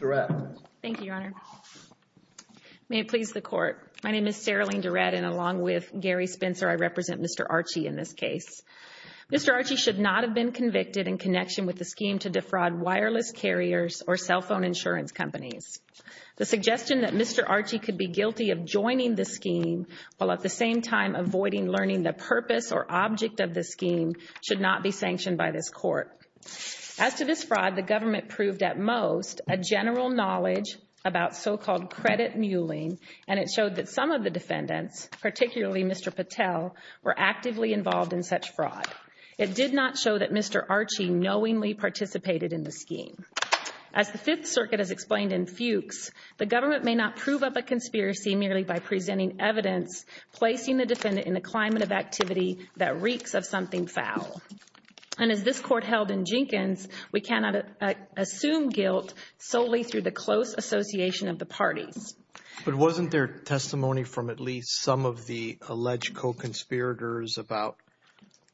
DeRette. Thank you, Your Honor. May it please the Court. My name is Sarah Lane DeRette, and along with Gary Spencer, I represent Mr. Archie in this case. Mr. Archie should not have been convicted in connection with the scheme to defraud wireless carriers or cell phone insurance companies. The suggestion that Mr. Archie could be guilty of joining the scheme, while at the same time avoiding learning the purpose or object of the scheme, should not be sanctioned by this Court. As to this fraud, the government proved at most a general knowledge about so-called credit mulling, and it showed that some of the defendants, particularly Mr. Patel, were actively involved in such fraud. It did not show that Mr. Archie knowingly participated in the scheme. As the Fifth Circuit has explained in Fuchs, the government may not prove up a conspiracy merely by presenting evidence placing the defendant in a climate of activity that reeks of something foul. And as this Court held in Jenkins, we cannot assume guilt solely through the close association of the parties. But wasn't there testimony from at least some of the alleged co-conspirators about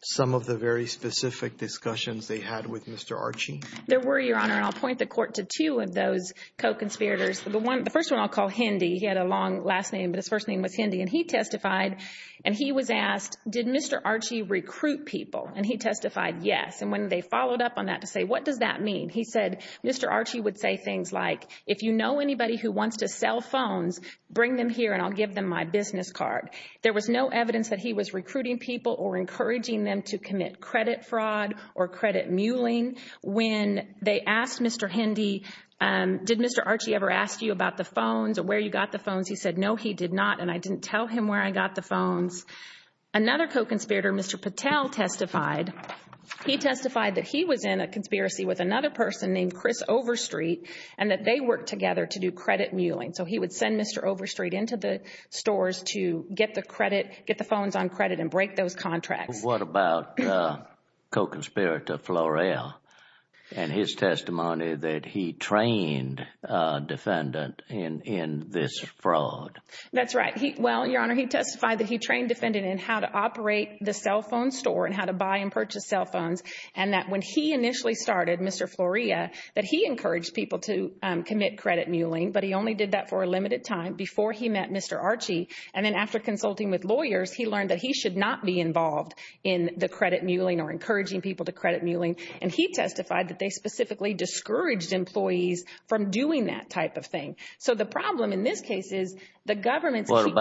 some of the very specific discussions they had with Mr. Archie? There were, Your Honor, and I'll point the Court to two of those co-conspirators. The first one I'll call Hendy. He had a long last name, but his first name was Hendy. And he testified, and he was asked, did Mr. Archie recruit people? And he testified, yes. And when they followed up on that to say, what does that mean? He said, Mr. Archie would say things like, if you know anybody who wants to sell phones, bring them here and I'll give them my business card. There was no evidence that he was recruiting people or encouraging them to commit credit fraud or credit mulling. When they asked Mr. Hendy, did Mr. Archie ever ask you about the phones or where you got the phones? He said, no, he did not, and I didn't tell him where I got the phones. Another co-conspirator, Mr. Patel, testified. He testified that he was in a conspiracy with another person named Chris Overstreet and that they worked together to do credit mulling. So he would send Mr. Overstreet into the stores to get the credit, get the phones on credit and break those contracts. What about co-conspirator Floreal and his testimony that he trained a defendant in this fraud? That's right. Well, Your Honor, he testified that he trained a defendant in how to operate the cell phone store and how to buy and purchase cell phones and that when he initially started, Mr. Floreal, that he encouraged people to commit credit mulling, but he only did that for a limited time before he met Mr. Archie. And then after consulting with lawyers, he learned that he should not be involved in the credit mulling or encouraging people to credit mulling, and he testified that they specifically discouraged employees from doing that type of thing. So the problem in this case is the government's— and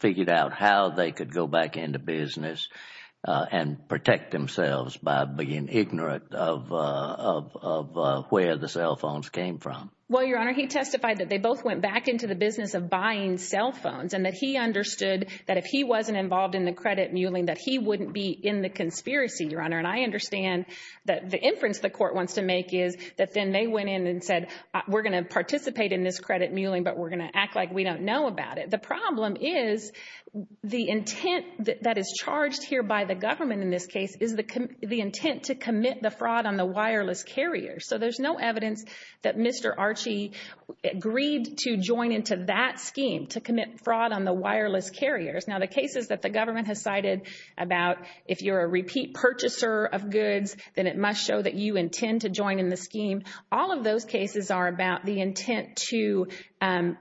figured out how they could go back into business and protect themselves by being ignorant of where the cell phones came from. Well, Your Honor, he testified that they both went back into the business of buying cell phones and that he understood that if he wasn't involved in the credit mulling, that he wouldn't be in the conspiracy, Your Honor. And I understand that the inference the court wants to make is that then they went in and said, we're going to participate in this credit mulling, but we're going to act like we don't know about it. The problem is the intent that is charged here by the government in this case is the intent to commit the fraud on the wireless carriers. So there's no evidence that Mr. Archie agreed to join into that scheme to commit fraud on the wireless carriers. Now, the cases that the government has cited about if you're a repeat purchaser of goods, then it must show that you intend to join in the scheme. All of those cases are about the intent to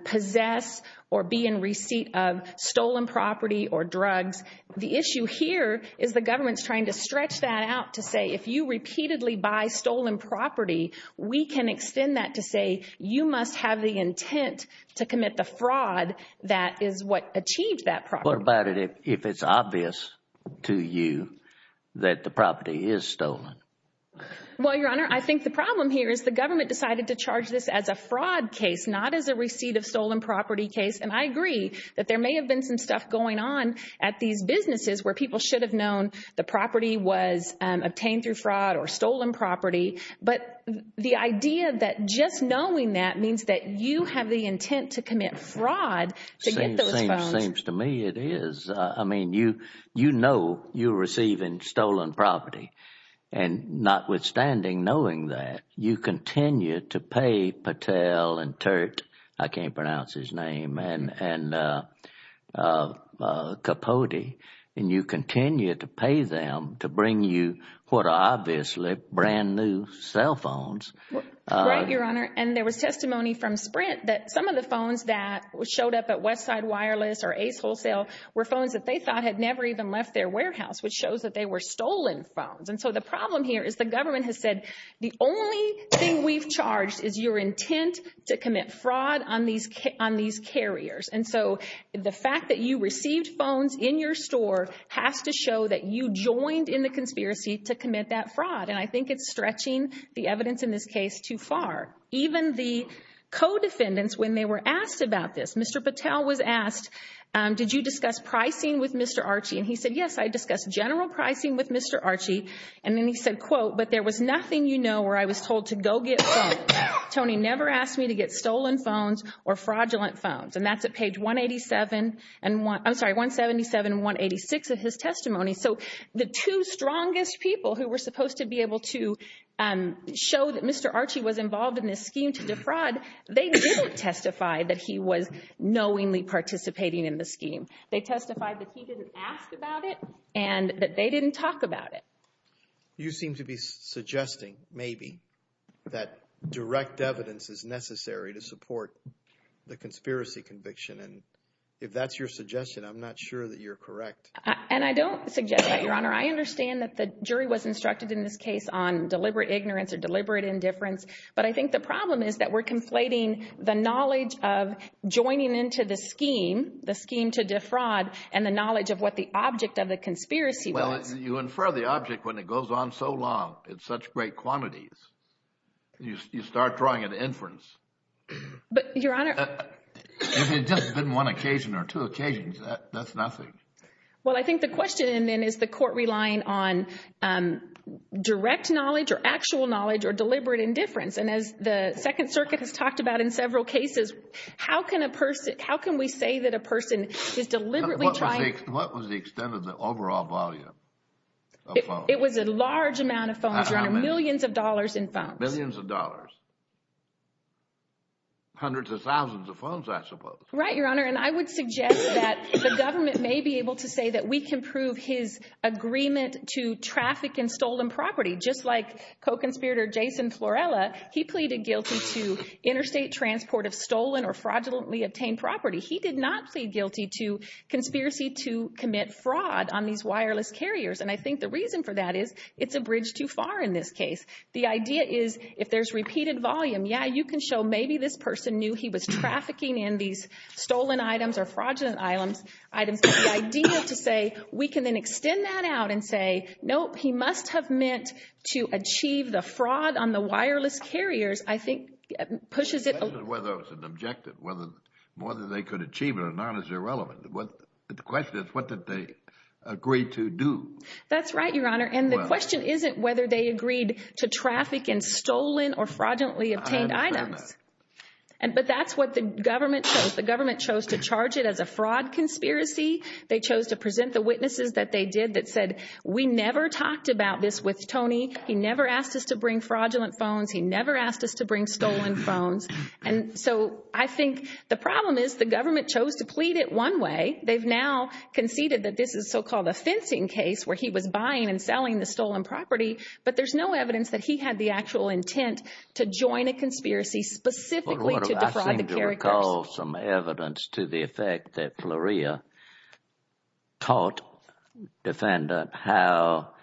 possess or be in receipt of stolen property or drugs. The issue here is the government's trying to stretch that out to say if you repeatedly buy stolen property, we can extend that to say you must have the intent to commit the fraud that is what achieved that property. What about it if it's obvious to you that the property is stolen? Well, Your Honor, I think the problem here is the government decided to charge this as a fraud case, not as a receipt of stolen property case. And I agree that there may have been some stuff going on at these businesses where people should have known the property was obtained through fraud or stolen property. But the idea that just knowing that means that you have the intent to commit fraud to get those phones. It seems to me it is. I mean, you know you're receiving stolen property. And notwithstanding knowing that, you continue to pay Patel and Turt, I can't pronounce his name, and Capote, and you continue to pay them to bring you what are obviously brand new cell phones. Right, Your Honor. And there was testimony from Sprint that some of the phones that showed up at Westside Wireless or Ace Wholesale were phones that they thought had never even left their warehouse, which shows that they were stolen phones. And so the problem here is the government has said the only thing we've charged is your intent to commit fraud on these carriers. And so the fact that you received phones in your store has to show that you joined in the conspiracy to commit that fraud. And I think it's stretching the evidence in this case too far. Even the co-defendants, when they were asked about this, Mr. Patel was asked, did you discuss pricing with Mr. Archie? And he said, yes, I discussed general pricing with Mr. Archie. And then he said, quote, but there was nothing you know where I was told to go get phones. Tony never asked me to get stolen phones or fraudulent phones. And that's at page 187, I'm sorry, 177 and 186 of his testimony. So the two strongest people who were supposed to be able to show that Mr. Archie was involved in this scheme to defraud, they didn't testify that he was knowingly participating in the scheme. They testified that he didn't ask about it and that they didn't talk about it. You seem to be suggesting maybe that direct evidence is necessary to support the conspiracy conviction. And if that's your suggestion, I'm not sure that you're correct. And I don't suggest that, Your Honor. I understand that the jury was instructed in this case on deliberate ignorance or deliberate indifference. But I think the problem is that we're conflating the knowledge of joining into the scheme, the scheme to defraud, and the knowledge of what the object of the conspiracy was. Well, you infer the object when it goes on so long in such great quantities. You start drawing an inference. But, Your Honor. If it had just been one occasion or two occasions, that's nothing. Well, I think the question, then, is the court relying on direct knowledge or actual knowledge or deliberate indifference? And as the Second Circuit has talked about in several cases, how can we say that a person is deliberately trying— What was the extent of the overall volume of phones? It was a large amount of phones, Your Honor. Millions of dollars in phones. Millions of dollars. Hundreds of thousands of phones, I suppose. Right, Your Honor. And I would suggest that the government may be able to say that we can prove his agreement to traffic in stolen property. Just like co-conspirator Jason Florella, he pleaded guilty to interstate transport of stolen or fraudulently obtained property. He did not plead guilty to conspiracy to commit fraud on these wireless carriers. And I think the reason for that is it's a bridge too far in this case. The idea is if there's repeated volume, yeah, you can show maybe this person knew he was trafficking in these stolen items or fraudulent items. But the idea to say we can then extend that out and say, nope, he must have meant to achieve the fraud on the wireless carriers, I think pushes it— That isn't whether it was an objective. Whether they could achieve it or not is irrelevant. The question is what did they agree to do? That's right, Your Honor. And the question isn't whether they agreed to traffic in stolen or fraudulently obtained items. But that's what the government chose. The government chose to charge it as a fraud conspiracy. They chose to present the witnesses that they did that said, we never talked about this with Tony. He never asked us to bring fraudulent phones. He never asked us to bring stolen phones. And so I think the problem is the government chose to plead it one way. They've now conceded that this is so-called a fencing case where he was buying and selling the stolen property. But there's no evidence that he had the actual intent to join a conspiracy specifically to defraud the carriers. I recall some evidence to the effect that Fleurieu taught Defendant how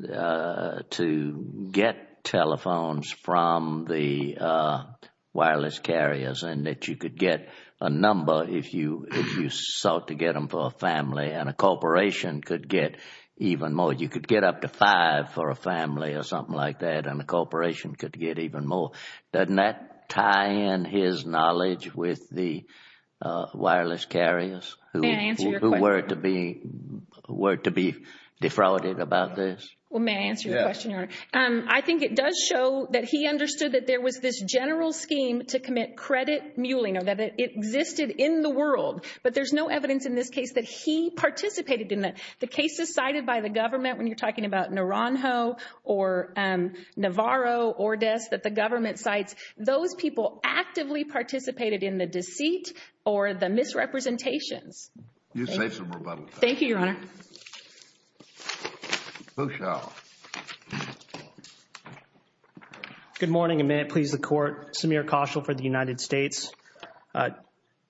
to get telephones from the wireless carriers and that you could get a number if you sought to get them for a family and a corporation could get even more. You could get up to five for a family or something like that and a corporation could get even more. Doesn't that tie in his knowledge with the wireless carriers who were to be defrauded about this? May I answer your question, Your Honor? I think it does show that he understood that there was this general scheme to commit credit mulling or that it existed in the world. But there's no evidence in this case that he participated in it. The cases cited by the government, when you're talking about Naranjo or Navarro or Des, that the government cites, those people actively participated in the deceit or the misrepresentations. You say some rebuttal. Thank you, Your Honor. Bouchard. Good morning and may it please the Court. Samir Khashel for the United States.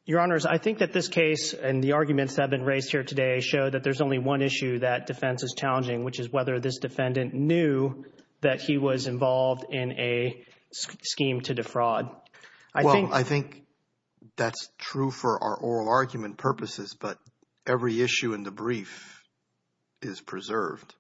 Your Honors, I think that this case and the arguments that have been raised here today show that there's only one issue that defense is challenging, which is whether this defendant knew that he was involved in a scheme to defraud. Well, I think that's true for our oral argument purposes, but every issue in the brief is preserved.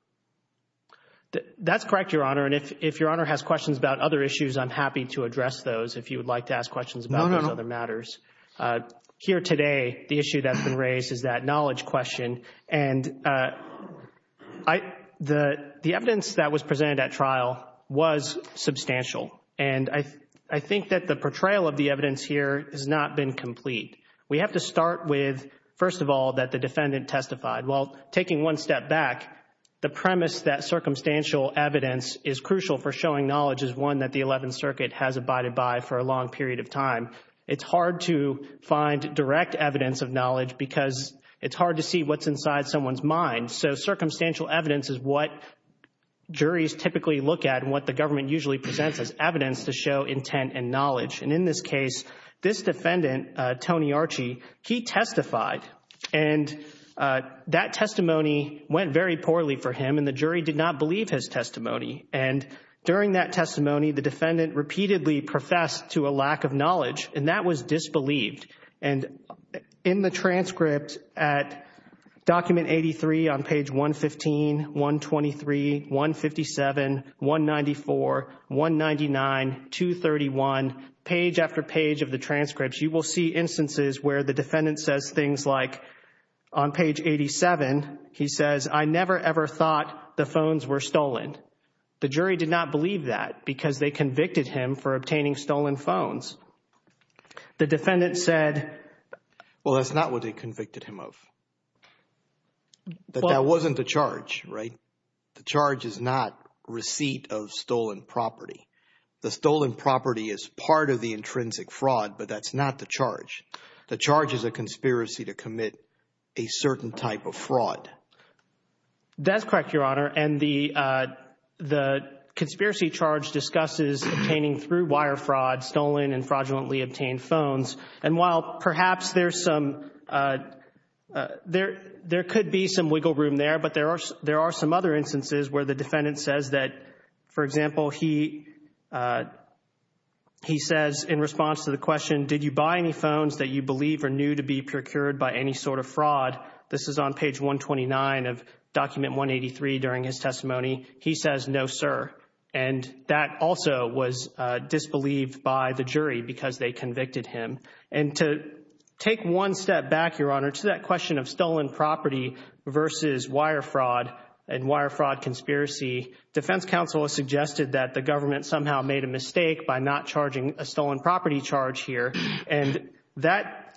That's correct, Your Honor, and if Your Honor has questions about other issues, I'm happy to address those. If you would like to ask questions about those other matters. No, no, no. Here today, the issue that's been raised is that knowledge question. And the evidence that was presented at trial was substantial, and I think that the portrayal of the evidence here has not been complete. We have to start with, first of all, that the defendant testified. Well, taking one step back, the premise that circumstantial evidence is crucial for showing knowledge is one that the Eleventh Circuit has abided by for a long period of time. It's hard to find direct evidence of knowledge because it's hard to see what's inside someone's mind. So circumstantial evidence is what juries typically look at and what the government usually presents as evidence to show intent and knowledge. And in this case, this defendant, Tony Archie, he testified, and that testimony went very poorly for him, and the jury did not believe his testimony. And during that testimony, the defendant repeatedly professed to a lack of knowledge, and that was disbelieved. And in the transcript at document 83 on page 115, 123, 157, 194, 199, 231, page after page of the transcripts, you will see instances where the defendant says things like, on page 87, he says, I never ever thought the phones were stolen. The jury did not believe that because they convicted him for obtaining stolen phones. The defendant said, well, that's not what they convicted him of. That wasn't the charge, right? The charge is not receipt of stolen property. The stolen property is part of the intrinsic fraud, but that's not the charge. The charge is a conspiracy to commit a certain type of fraud. That's correct, Your Honor, and the conspiracy charge discusses obtaining through wire fraud stolen and fraudulently obtained phones. And while perhaps there's some – there could be some wiggle room there, but there are some other instances where the defendant says that, for example, he says in response to the question, did you buy any phones that you believe are new to be procured by any sort of fraud? This is on page 129 of document 183 during his testimony. He says, no, sir, and that also was disbelieved by the jury because they convicted him. And to take one step back, Your Honor, to that question of stolen property versus wire fraud and wire fraud conspiracy, defense counsel has suggested that the government somehow made a mistake by not charging a stolen property charge here, and that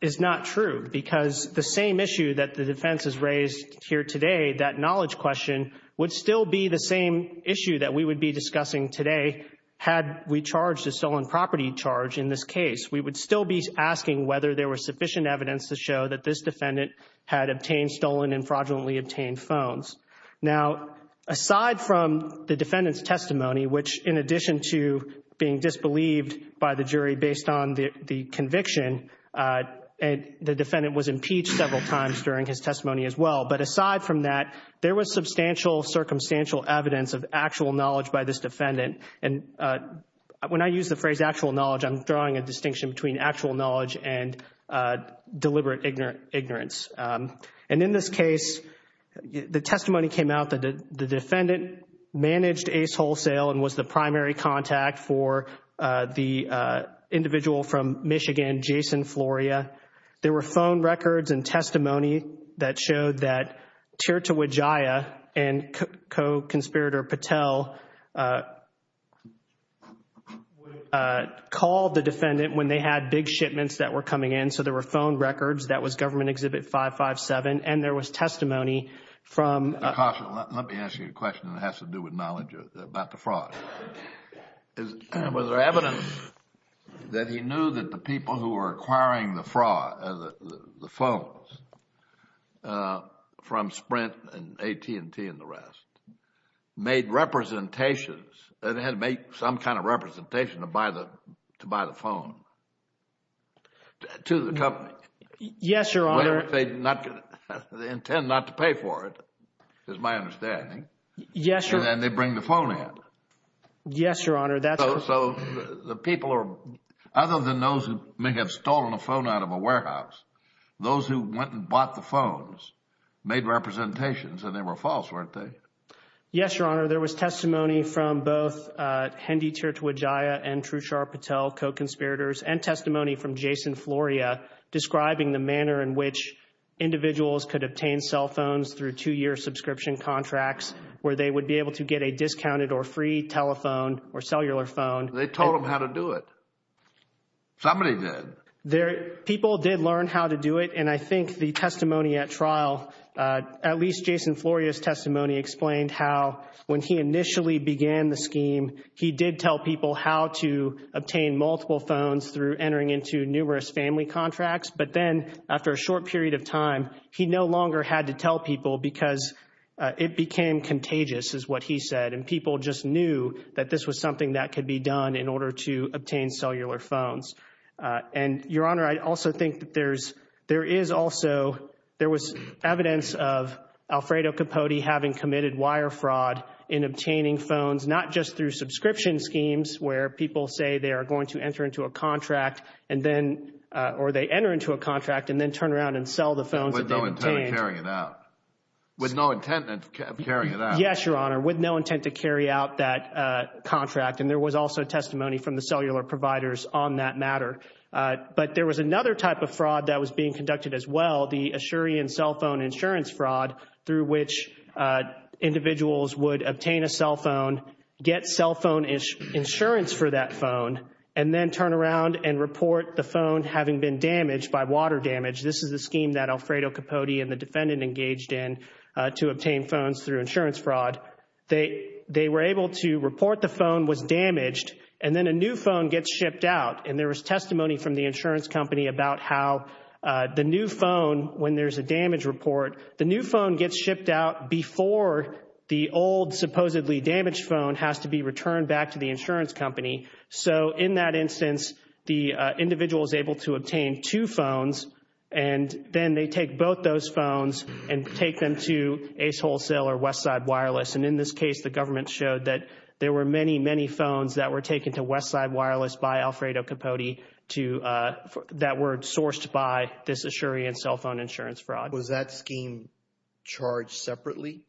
is not true because the same issue that the defense has raised here today, that knowledge question, would still be the same issue that we would be discussing today had we charged a stolen property charge in this case. We would still be asking whether there was sufficient evidence to show that this defendant had obtained stolen and fraudulently obtained phones. Now, aside from the defendant's testimony, which in addition to being disbelieved by the jury based on the conviction, the defendant was impeached several times during his testimony as well. But aside from that, there was substantial circumstantial evidence of actual knowledge by this defendant. And when I use the phrase actual knowledge, I'm drawing a distinction between actual knowledge and deliberate ignorance. And in this case, the testimony came out that the defendant managed Ace Wholesale and was the primary contact for the individual from Michigan, Jason Floria. There were phone records and testimony that showed that Tirta Wijaya and co-conspirator Patel called the defendant when they had big shipments that were coming in. So there were phone records. That was Government Exhibit 557. And there was testimony from Now, caution. Let me ask you a question that has to do with knowledge about the fraud. Was there evidence that he knew that the people who were acquiring the phones from Sprint and AT&T and the rest made representations and had made some kind of representation to buy the phone to the company? Yes, Your Honor. They intend not to pay for it, is my understanding. Yes, Your Honor. And then they bring the phone in. Yes, Your Honor. So the people are... Other than those who may have stolen a phone out of a warehouse, those who went and bought the phones made representations and they were false, weren't they? Yes, Your Honor. There was testimony from both Hendi Tirta Wijaya and Trushar Patel, co-conspirators, and testimony from Jason Floria describing the manner in which individuals could obtain cell phones through two-year subscription contracts where they would be able to get a discounted or free telephone or cellular phone. They told him how to do it. Somebody did. People did learn how to do it, and I think the testimony at trial, at least Jason Floria's testimony, explained how when he initially began the scheme, he did tell people how to obtain multiple phones through entering into numerous family contracts, but then after a short period of time, he no longer had to tell people because it became contagious, is what he said, and people just knew that this was something that could be done in order to obtain cellular phones. And, Your Honor, I also think that there is also... There was evidence of Alfredo Capote having committed wire fraud in obtaining phones, not just through subscription schemes where people say they are going to enter into a contract and then...or they enter into a contract and then turn around and sell the phones that they obtained. With no intent of carrying it out. With no intent of carrying it out. Yes, Your Honor, with no intent to carry out that contract, and there was also testimony from the cellular providers on that matter. But there was another type of fraud that was being conducted as well, the Assyrian cell phone insurance fraud through which individuals would obtain a cell phone, get cell phone insurance for that phone, and then turn around and report the phone having been damaged by water damage. This is the scheme that Alfredo Capote and the defendant engaged in to obtain phones through insurance fraud. They were able to report the phone was damaged, and then a new phone gets shipped out. And there was testimony from the insurance company about how the new phone, when there's a damage report, the new phone gets shipped out before the old supposedly damaged phone has to be returned back to the insurance company. So in that instance, the individual is able to obtain two phones, and then they take both those phones and take them to Ace Wholesale or Westside Wireless. And in this case, the government showed that there were many, many phones that were taken to Westside Wireless by Alfredo Capote that were sourced by this Assyrian cell phone insurance fraud. Was that scheme charged separately?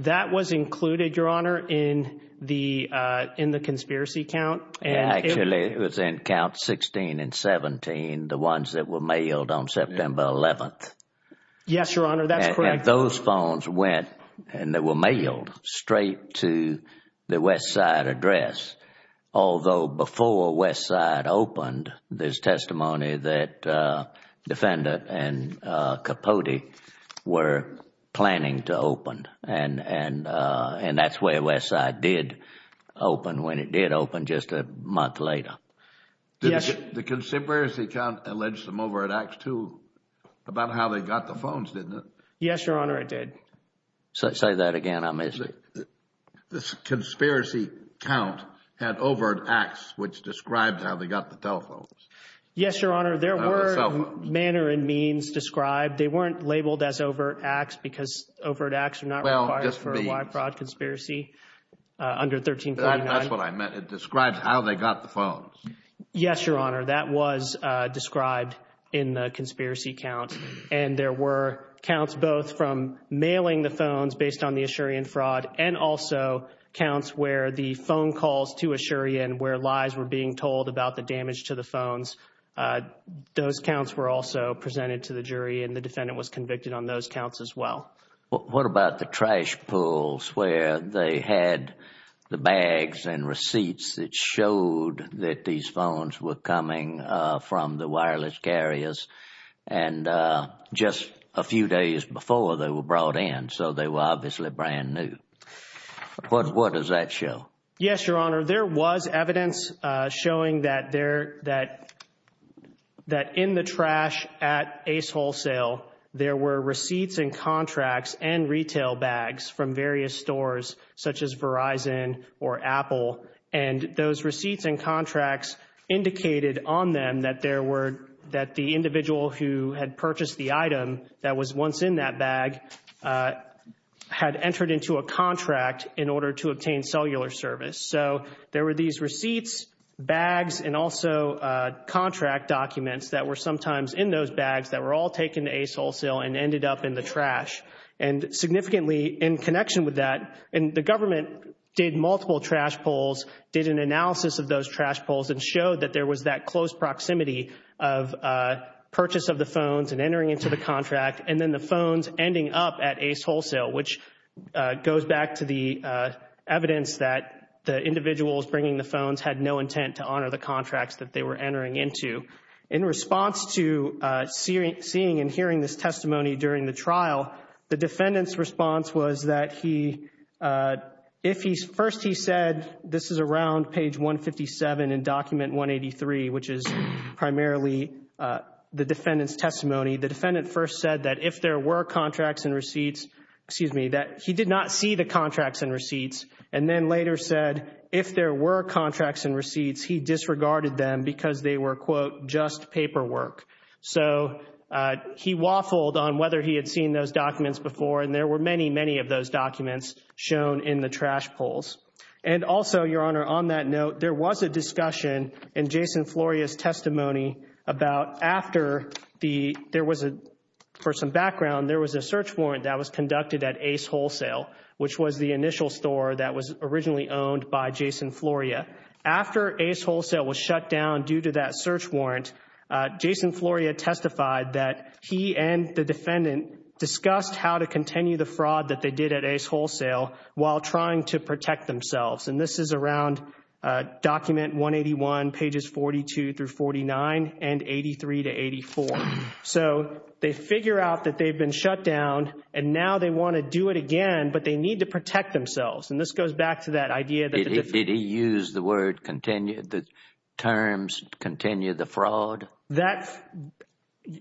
That was included, Your Honor, in the conspiracy count. Actually, it was in Count 16 and 17, the ones that were mailed on September 11th. Yes, Your Honor, that's correct. And those phones went and they were mailed straight to the Westside address, although before Westside opened, there's testimony that Defendant and Capote were planning to open. And that's where Westside did open, when it did open just a month later. Yes. The conspiracy count alleged them over at Acts 2 about how they got the phones, didn't it? Yes, Your Honor, it did. Say that again, I miss it. This conspiracy count had overt acts which described how they got the telephones. Yes, Your Honor, there were manner and means described. They weren't labeled as overt acts because overt acts are not required for a wide-fraud conspiracy under 1349. That's what I meant. It described how they got the phones. Yes, Your Honor, that was described in the conspiracy count. And there were counts both from mailing the phones based on the Assyrian fraud and also counts where the phone calls to Assyria and where lies were being told about the damage to the phones, those counts were also presented to the jury and the defendant was convicted on those counts as well. What about the trash pulls where they had the bags and receipts that showed that these phones were coming from the wireless carriers and just a few days before they were brought in, so they were obviously brand new. What does that show? Yes, Your Honor, there was evidence showing that in the trash at Ace Wholesale, there were receipts and contracts and retail bags from various stores such as Verizon or Apple, and those receipts and contracts indicated on them that the individual who had purchased the item that was once in that bag had entered into a contract in order to obtain cellular service. So there were these receipts, bags, and also contract documents that were sometimes in those bags that were all taken to Ace Wholesale and ended up in the trash. And significantly in connection with that, the government did multiple trash pulls, did an analysis of those trash pulls and showed that there was that close proximity of purchase of the phones and entering into the contract and then the phones ending up at Ace Wholesale, which goes back to the evidence that the individuals bringing the phones had no intent to honor the contracts that they were entering into. In response to seeing and hearing this testimony during the trial, the defendant's response was that first he said this is around page 157 in document 183, which is primarily the defendant's testimony. The defendant first said that if there were contracts and receipts, excuse me, that he did not see the contracts and receipts, and then later said if there were contracts and receipts, he disregarded them because they were, quote, just paperwork. So he waffled on whether he had seen those documents before, and there were many, many of those documents shown in the trash pulls. And also, Your Honor, on that note, there was a discussion in Jason Floria's testimony about after there was a, for some background, there was a search warrant that was conducted at Ace Wholesale, which was the initial store that was originally owned by Jason Floria. After Ace Wholesale was shut down due to that search warrant, Jason Floria testified that he and the defendant discussed how to continue the fraud that they did at Ace Wholesale while trying to protect themselves, and this is around document 181, pages 42 through 49, and 83 to 84. So they figure out that they've been shut down, and now they want to do it again, but they need to protect themselves, and this goes back to that idea that the defendant used the word continue, the terms continue the fraud. That,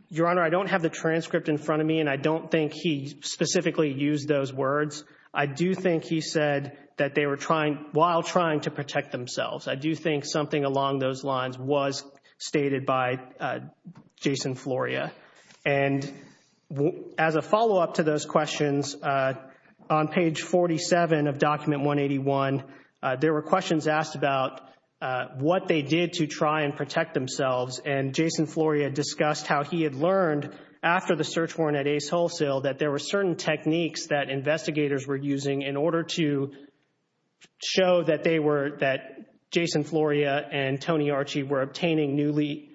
Your Honor, I don't have the transcript in front of me, and I don't think he specifically used those words. I do think he said that they were trying, while trying to protect themselves. I do think something along those lines was stated by Jason Floria. And as a follow-up to those questions, on page 47 of document 181, there were questions asked about what they did to try and protect themselves, and Jason Floria discussed how he had learned after the search warrant at Ace Wholesale that there were certain techniques that investigators were using in order to show that they were, that Jason Floria and Tony Archie were obtaining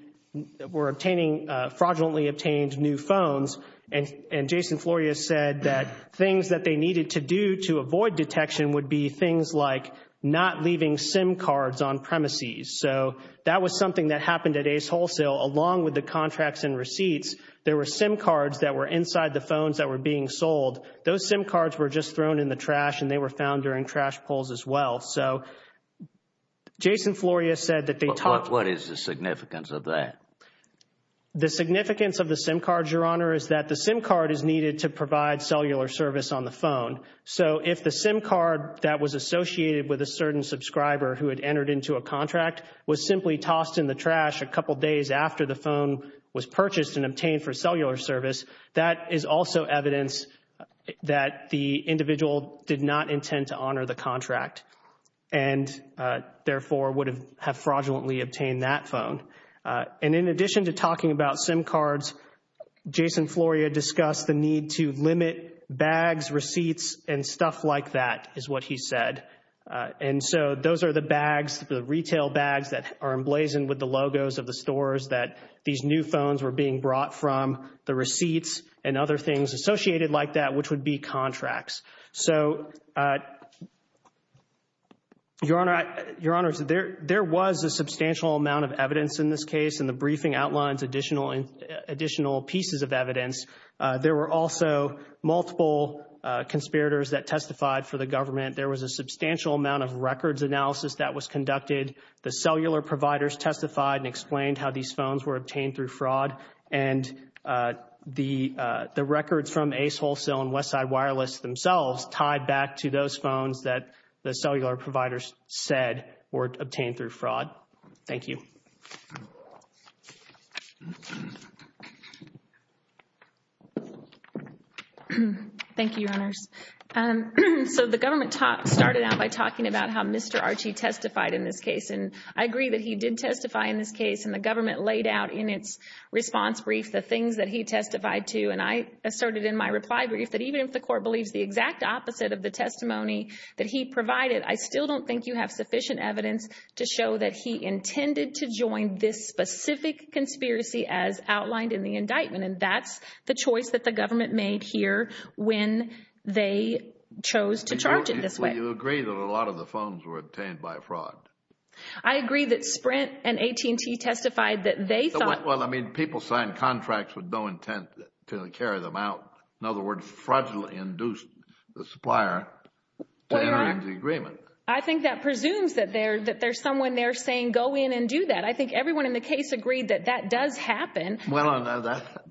fraudulently obtained new phones, and Jason Floria said that things that they needed to do to avoid detection would be things like not leaving SIM cards on premises. So, that was something that happened at Ace Wholesale. Along with the contracts and receipts, there were SIM cards that were inside the phones that were being sold. Those SIM cards were just thrown in the trash, and they were found during trash pulls as well. So, Jason Floria said that they talked. What is the significance of that? The significance of the SIM cards, Your Honor, is that the SIM card is needed to provide cellular service on the phone. So, if the SIM card that was associated with a certain subscriber who had entered into a contract was simply tossed in the trash a couple days after the phone was purchased and obtained for cellular service, that is also evidence that the individual did not intend to honor the contract, and therefore would have fraudulently obtained that phone. And in addition to talking about SIM cards, Jason Floria discussed the need to limit bags, receipts, and stuff like that, is what he said. And so, those are the bags, the retail bags that are emblazoned with the logos of the stores that these new phones were being brought from, the receipts and other things associated like that, which would be contracts. So, Your Honor, there was a substantial amount of evidence in this case, and the briefing outlines additional pieces of evidence. There were also multiple conspirators that testified for the government. There was a substantial amount of records analysis that was conducted. The cellular providers testified and explained how these phones were obtained through fraud. And the records from Ace Wholesale and Westside Wireless themselves tied back to those phones that the cellular providers said were obtained through fraud. Thank you. Thank you, Your Honors. So, the government started out by talking about how Mr. Archie testified in this case. And I agree that he did testify in this case, and the government laid out in its response brief the things that he testified to. And I asserted in my reply brief that even if the court believes the exact opposite of the testimony that he provided, I still don't think you have sufficient evidence to show that he intended to join this specific conspiracy as outlined in the indictment. And that's the choice that the government made here when they chose to charge it this way. You agree that a lot of the phones were obtained by fraud? I agree that Sprint and AT&T testified that they thought... Well, I mean, people signed contracts with no intent to carry them out. In other words, fraudulently induced the supplier to enter into the agreement. I think that presumes that there's someone there saying, go in and do that. I think everyone in the case agreed that that does happen. Well,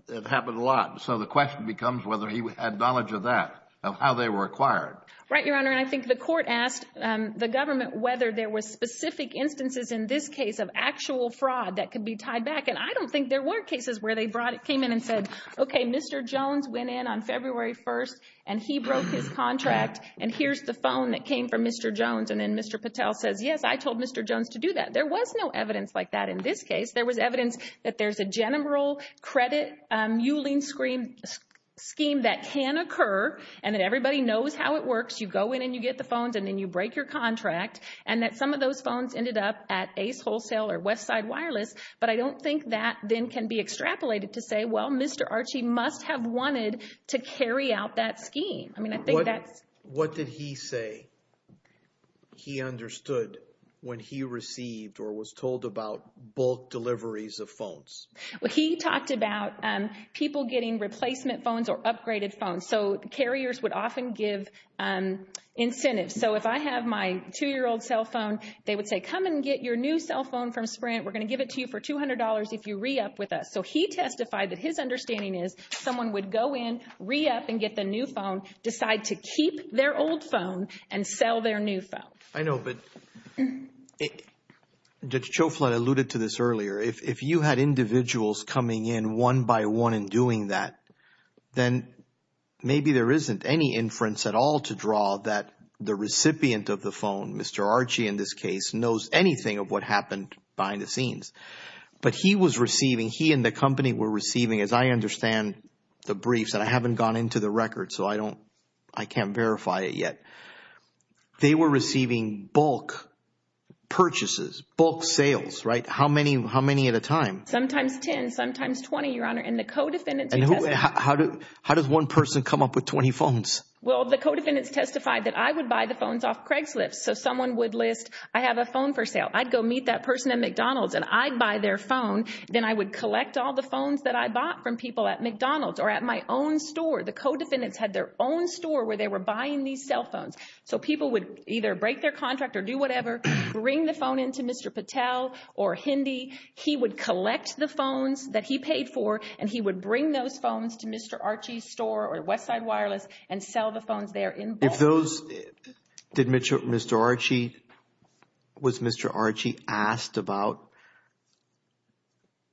it happened a lot. So, the question becomes whether he had knowledge of that, of how they were acquired. Right, Your Honor. And I think the court asked the government whether there were specific instances in this case of actual fraud that could be tied back. And I don't think there were cases where they came in and said, okay, Mr. Jones went in on February 1st and he broke his contract and here's the phone that came from Mr. Jones. And then Mr. Patel says, yes, I told Mr. Jones to do that. There was no evidence like that in this case. There was evidence that there's a general credit mulling scheme that can occur and that everybody knows how it works. You go in and you get the phones and then you break your contract. And that some of those phones ended up at Ace Wholesale or Westside Wireless. But I don't think that then can be extrapolated to say, well, Mr. Archie must have wanted to carry out that scheme. I mean, I think that's. What did he say he understood when he received or was told about bulk deliveries of phones? Well, he talked about people getting replacement phones or upgraded phones. So, carriers would often give incentives. So, if I have my 2-year-old cell phone, they would say, come and get your new cell phone from Sprint. We're going to give it to you for $200 if you re-up with us. So, he testified that his understanding is someone would go in, re-up and get the new phone, decide to keep their old phone and sell their new phone. I know, but Judge Choflin alluded to this earlier. If you had individuals coming in one by one and doing that, then maybe there isn't any inference at all to draw that the recipient of the phone, Mr. Archie in this case, knows anything of what happened behind the scenes. But he was receiving, he and the company were receiving, as I understand the briefs, and I haven't gone into the records, so I can't verify it yet. They were receiving bulk purchases, bulk sales, right? How many at a time? Sometimes 10, sometimes 20, Your Honor. And the co-defendants testified. How does one person come up with 20 phones? Well, the co-defendants testified that I would buy the phones off Craigslist. So, someone would list, I have a phone for sale. I'd go meet that person at McDonald's and I'd buy their phone. Then I would collect all the phones that I bought from people at McDonald's or at my own store. The co-defendants had their own store where they were buying these cell phones. So, people would either break their contract or do whatever, bring the phone in to Mr. Patel or Hindi. He would collect the phones that he paid for, and he would bring those phones to Mr. Archie's store or Westside Wireless and sell the phones there in bulk. If those, did Mr. Archie, was Mr. Archie asked about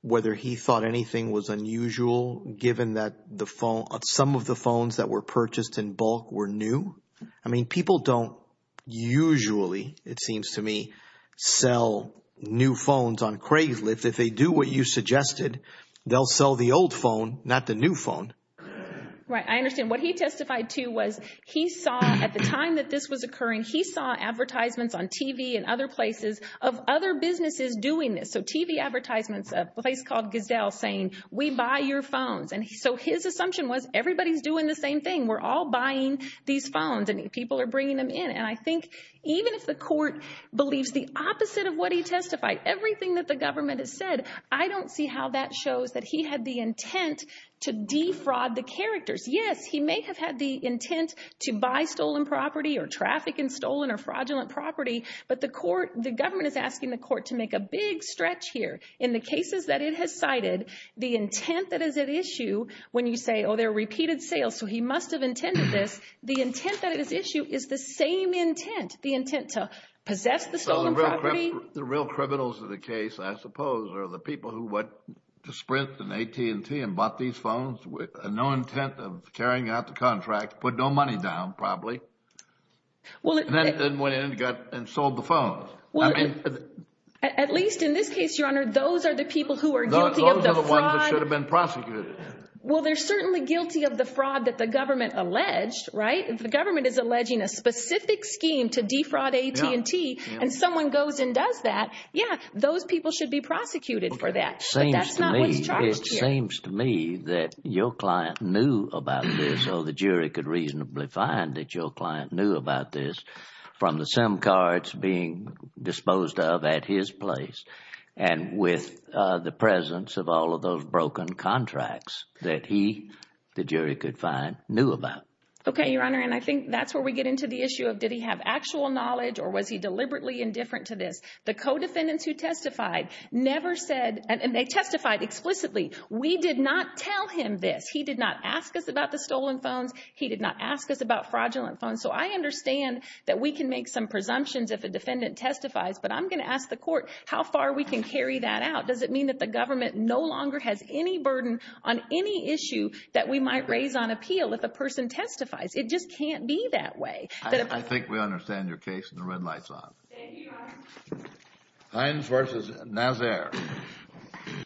whether he thought anything was unusual, given that some of the phones that were purchased in bulk were new? I mean, people don't usually, it seems to me, sell new phones on Craigslist. If they do what you suggested, they'll sell the old phone, not the new phone. Right. I understand. What he testified to was he saw, at the time that this was occurring, he saw advertisements on TV and other places of other businesses doing this. So, TV advertisements of a place called Gisdell saying, we buy your phones. And so, his assumption was everybody's doing the same thing. We're all buying these phones and people are bringing them in. And I think even if the court believes the opposite of what he testified, everything that the government has said, I don't see how that shows that he had the intent to defraud the characters. Yes, he may have had the intent to buy stolen property or traffic in stolen or fraudulent property, but the court, the government is asking the court to make a big stretch here. In the cases that it has cited, the intent that is at issue when you say, oh, they're repeated sales, so he must have intended this, the intent that is at issue is the same intent. The intent to possess the stolen property. The real criminals of the case, I suppose, are the people who went to Sprint and AT&T and bought these phones with no intent of carrying out the contract, put no money down, probably, and then went in and sold the phones. At least in this case, Your Honor, those are the people who are guilty of the fraud. Those are the ones that should have been prosecuted. Well, they're certainly guilty of the fraud that the government alleged, right? If the government is alleging a specific scheme to defraud AT&T and someone goes and does that, yeah, those people should be prosecuted for that, but that's not what's charged here. It seems to me that your client knew about this or the jury could reasonably find that your client knew about this from the SIM cards being disposed of at his place and with the presence of all of those broken contracts that he, the jury could find, knew about. Okay, Your Honor, and I think that's where we get into the issue of did he have actual knowledge or was he deliberately indifferent to this? The co-defendants who testified never said, and they testified explicitly, we did not tell him this. He did not ask us about the stolen phones. He did not ask us about fraudulent phones. So I understand that we can make some presumptions if a defendant testifies, but I'm going to ask the court how far we can carry that out. Does it mean that the government no longer has any burden on any issue that we might raise on appeal if a person testifies? It just can't be that way. I think we understand your case, and the red light's on. Thank you, Your Honor. Hines v. Nazaire.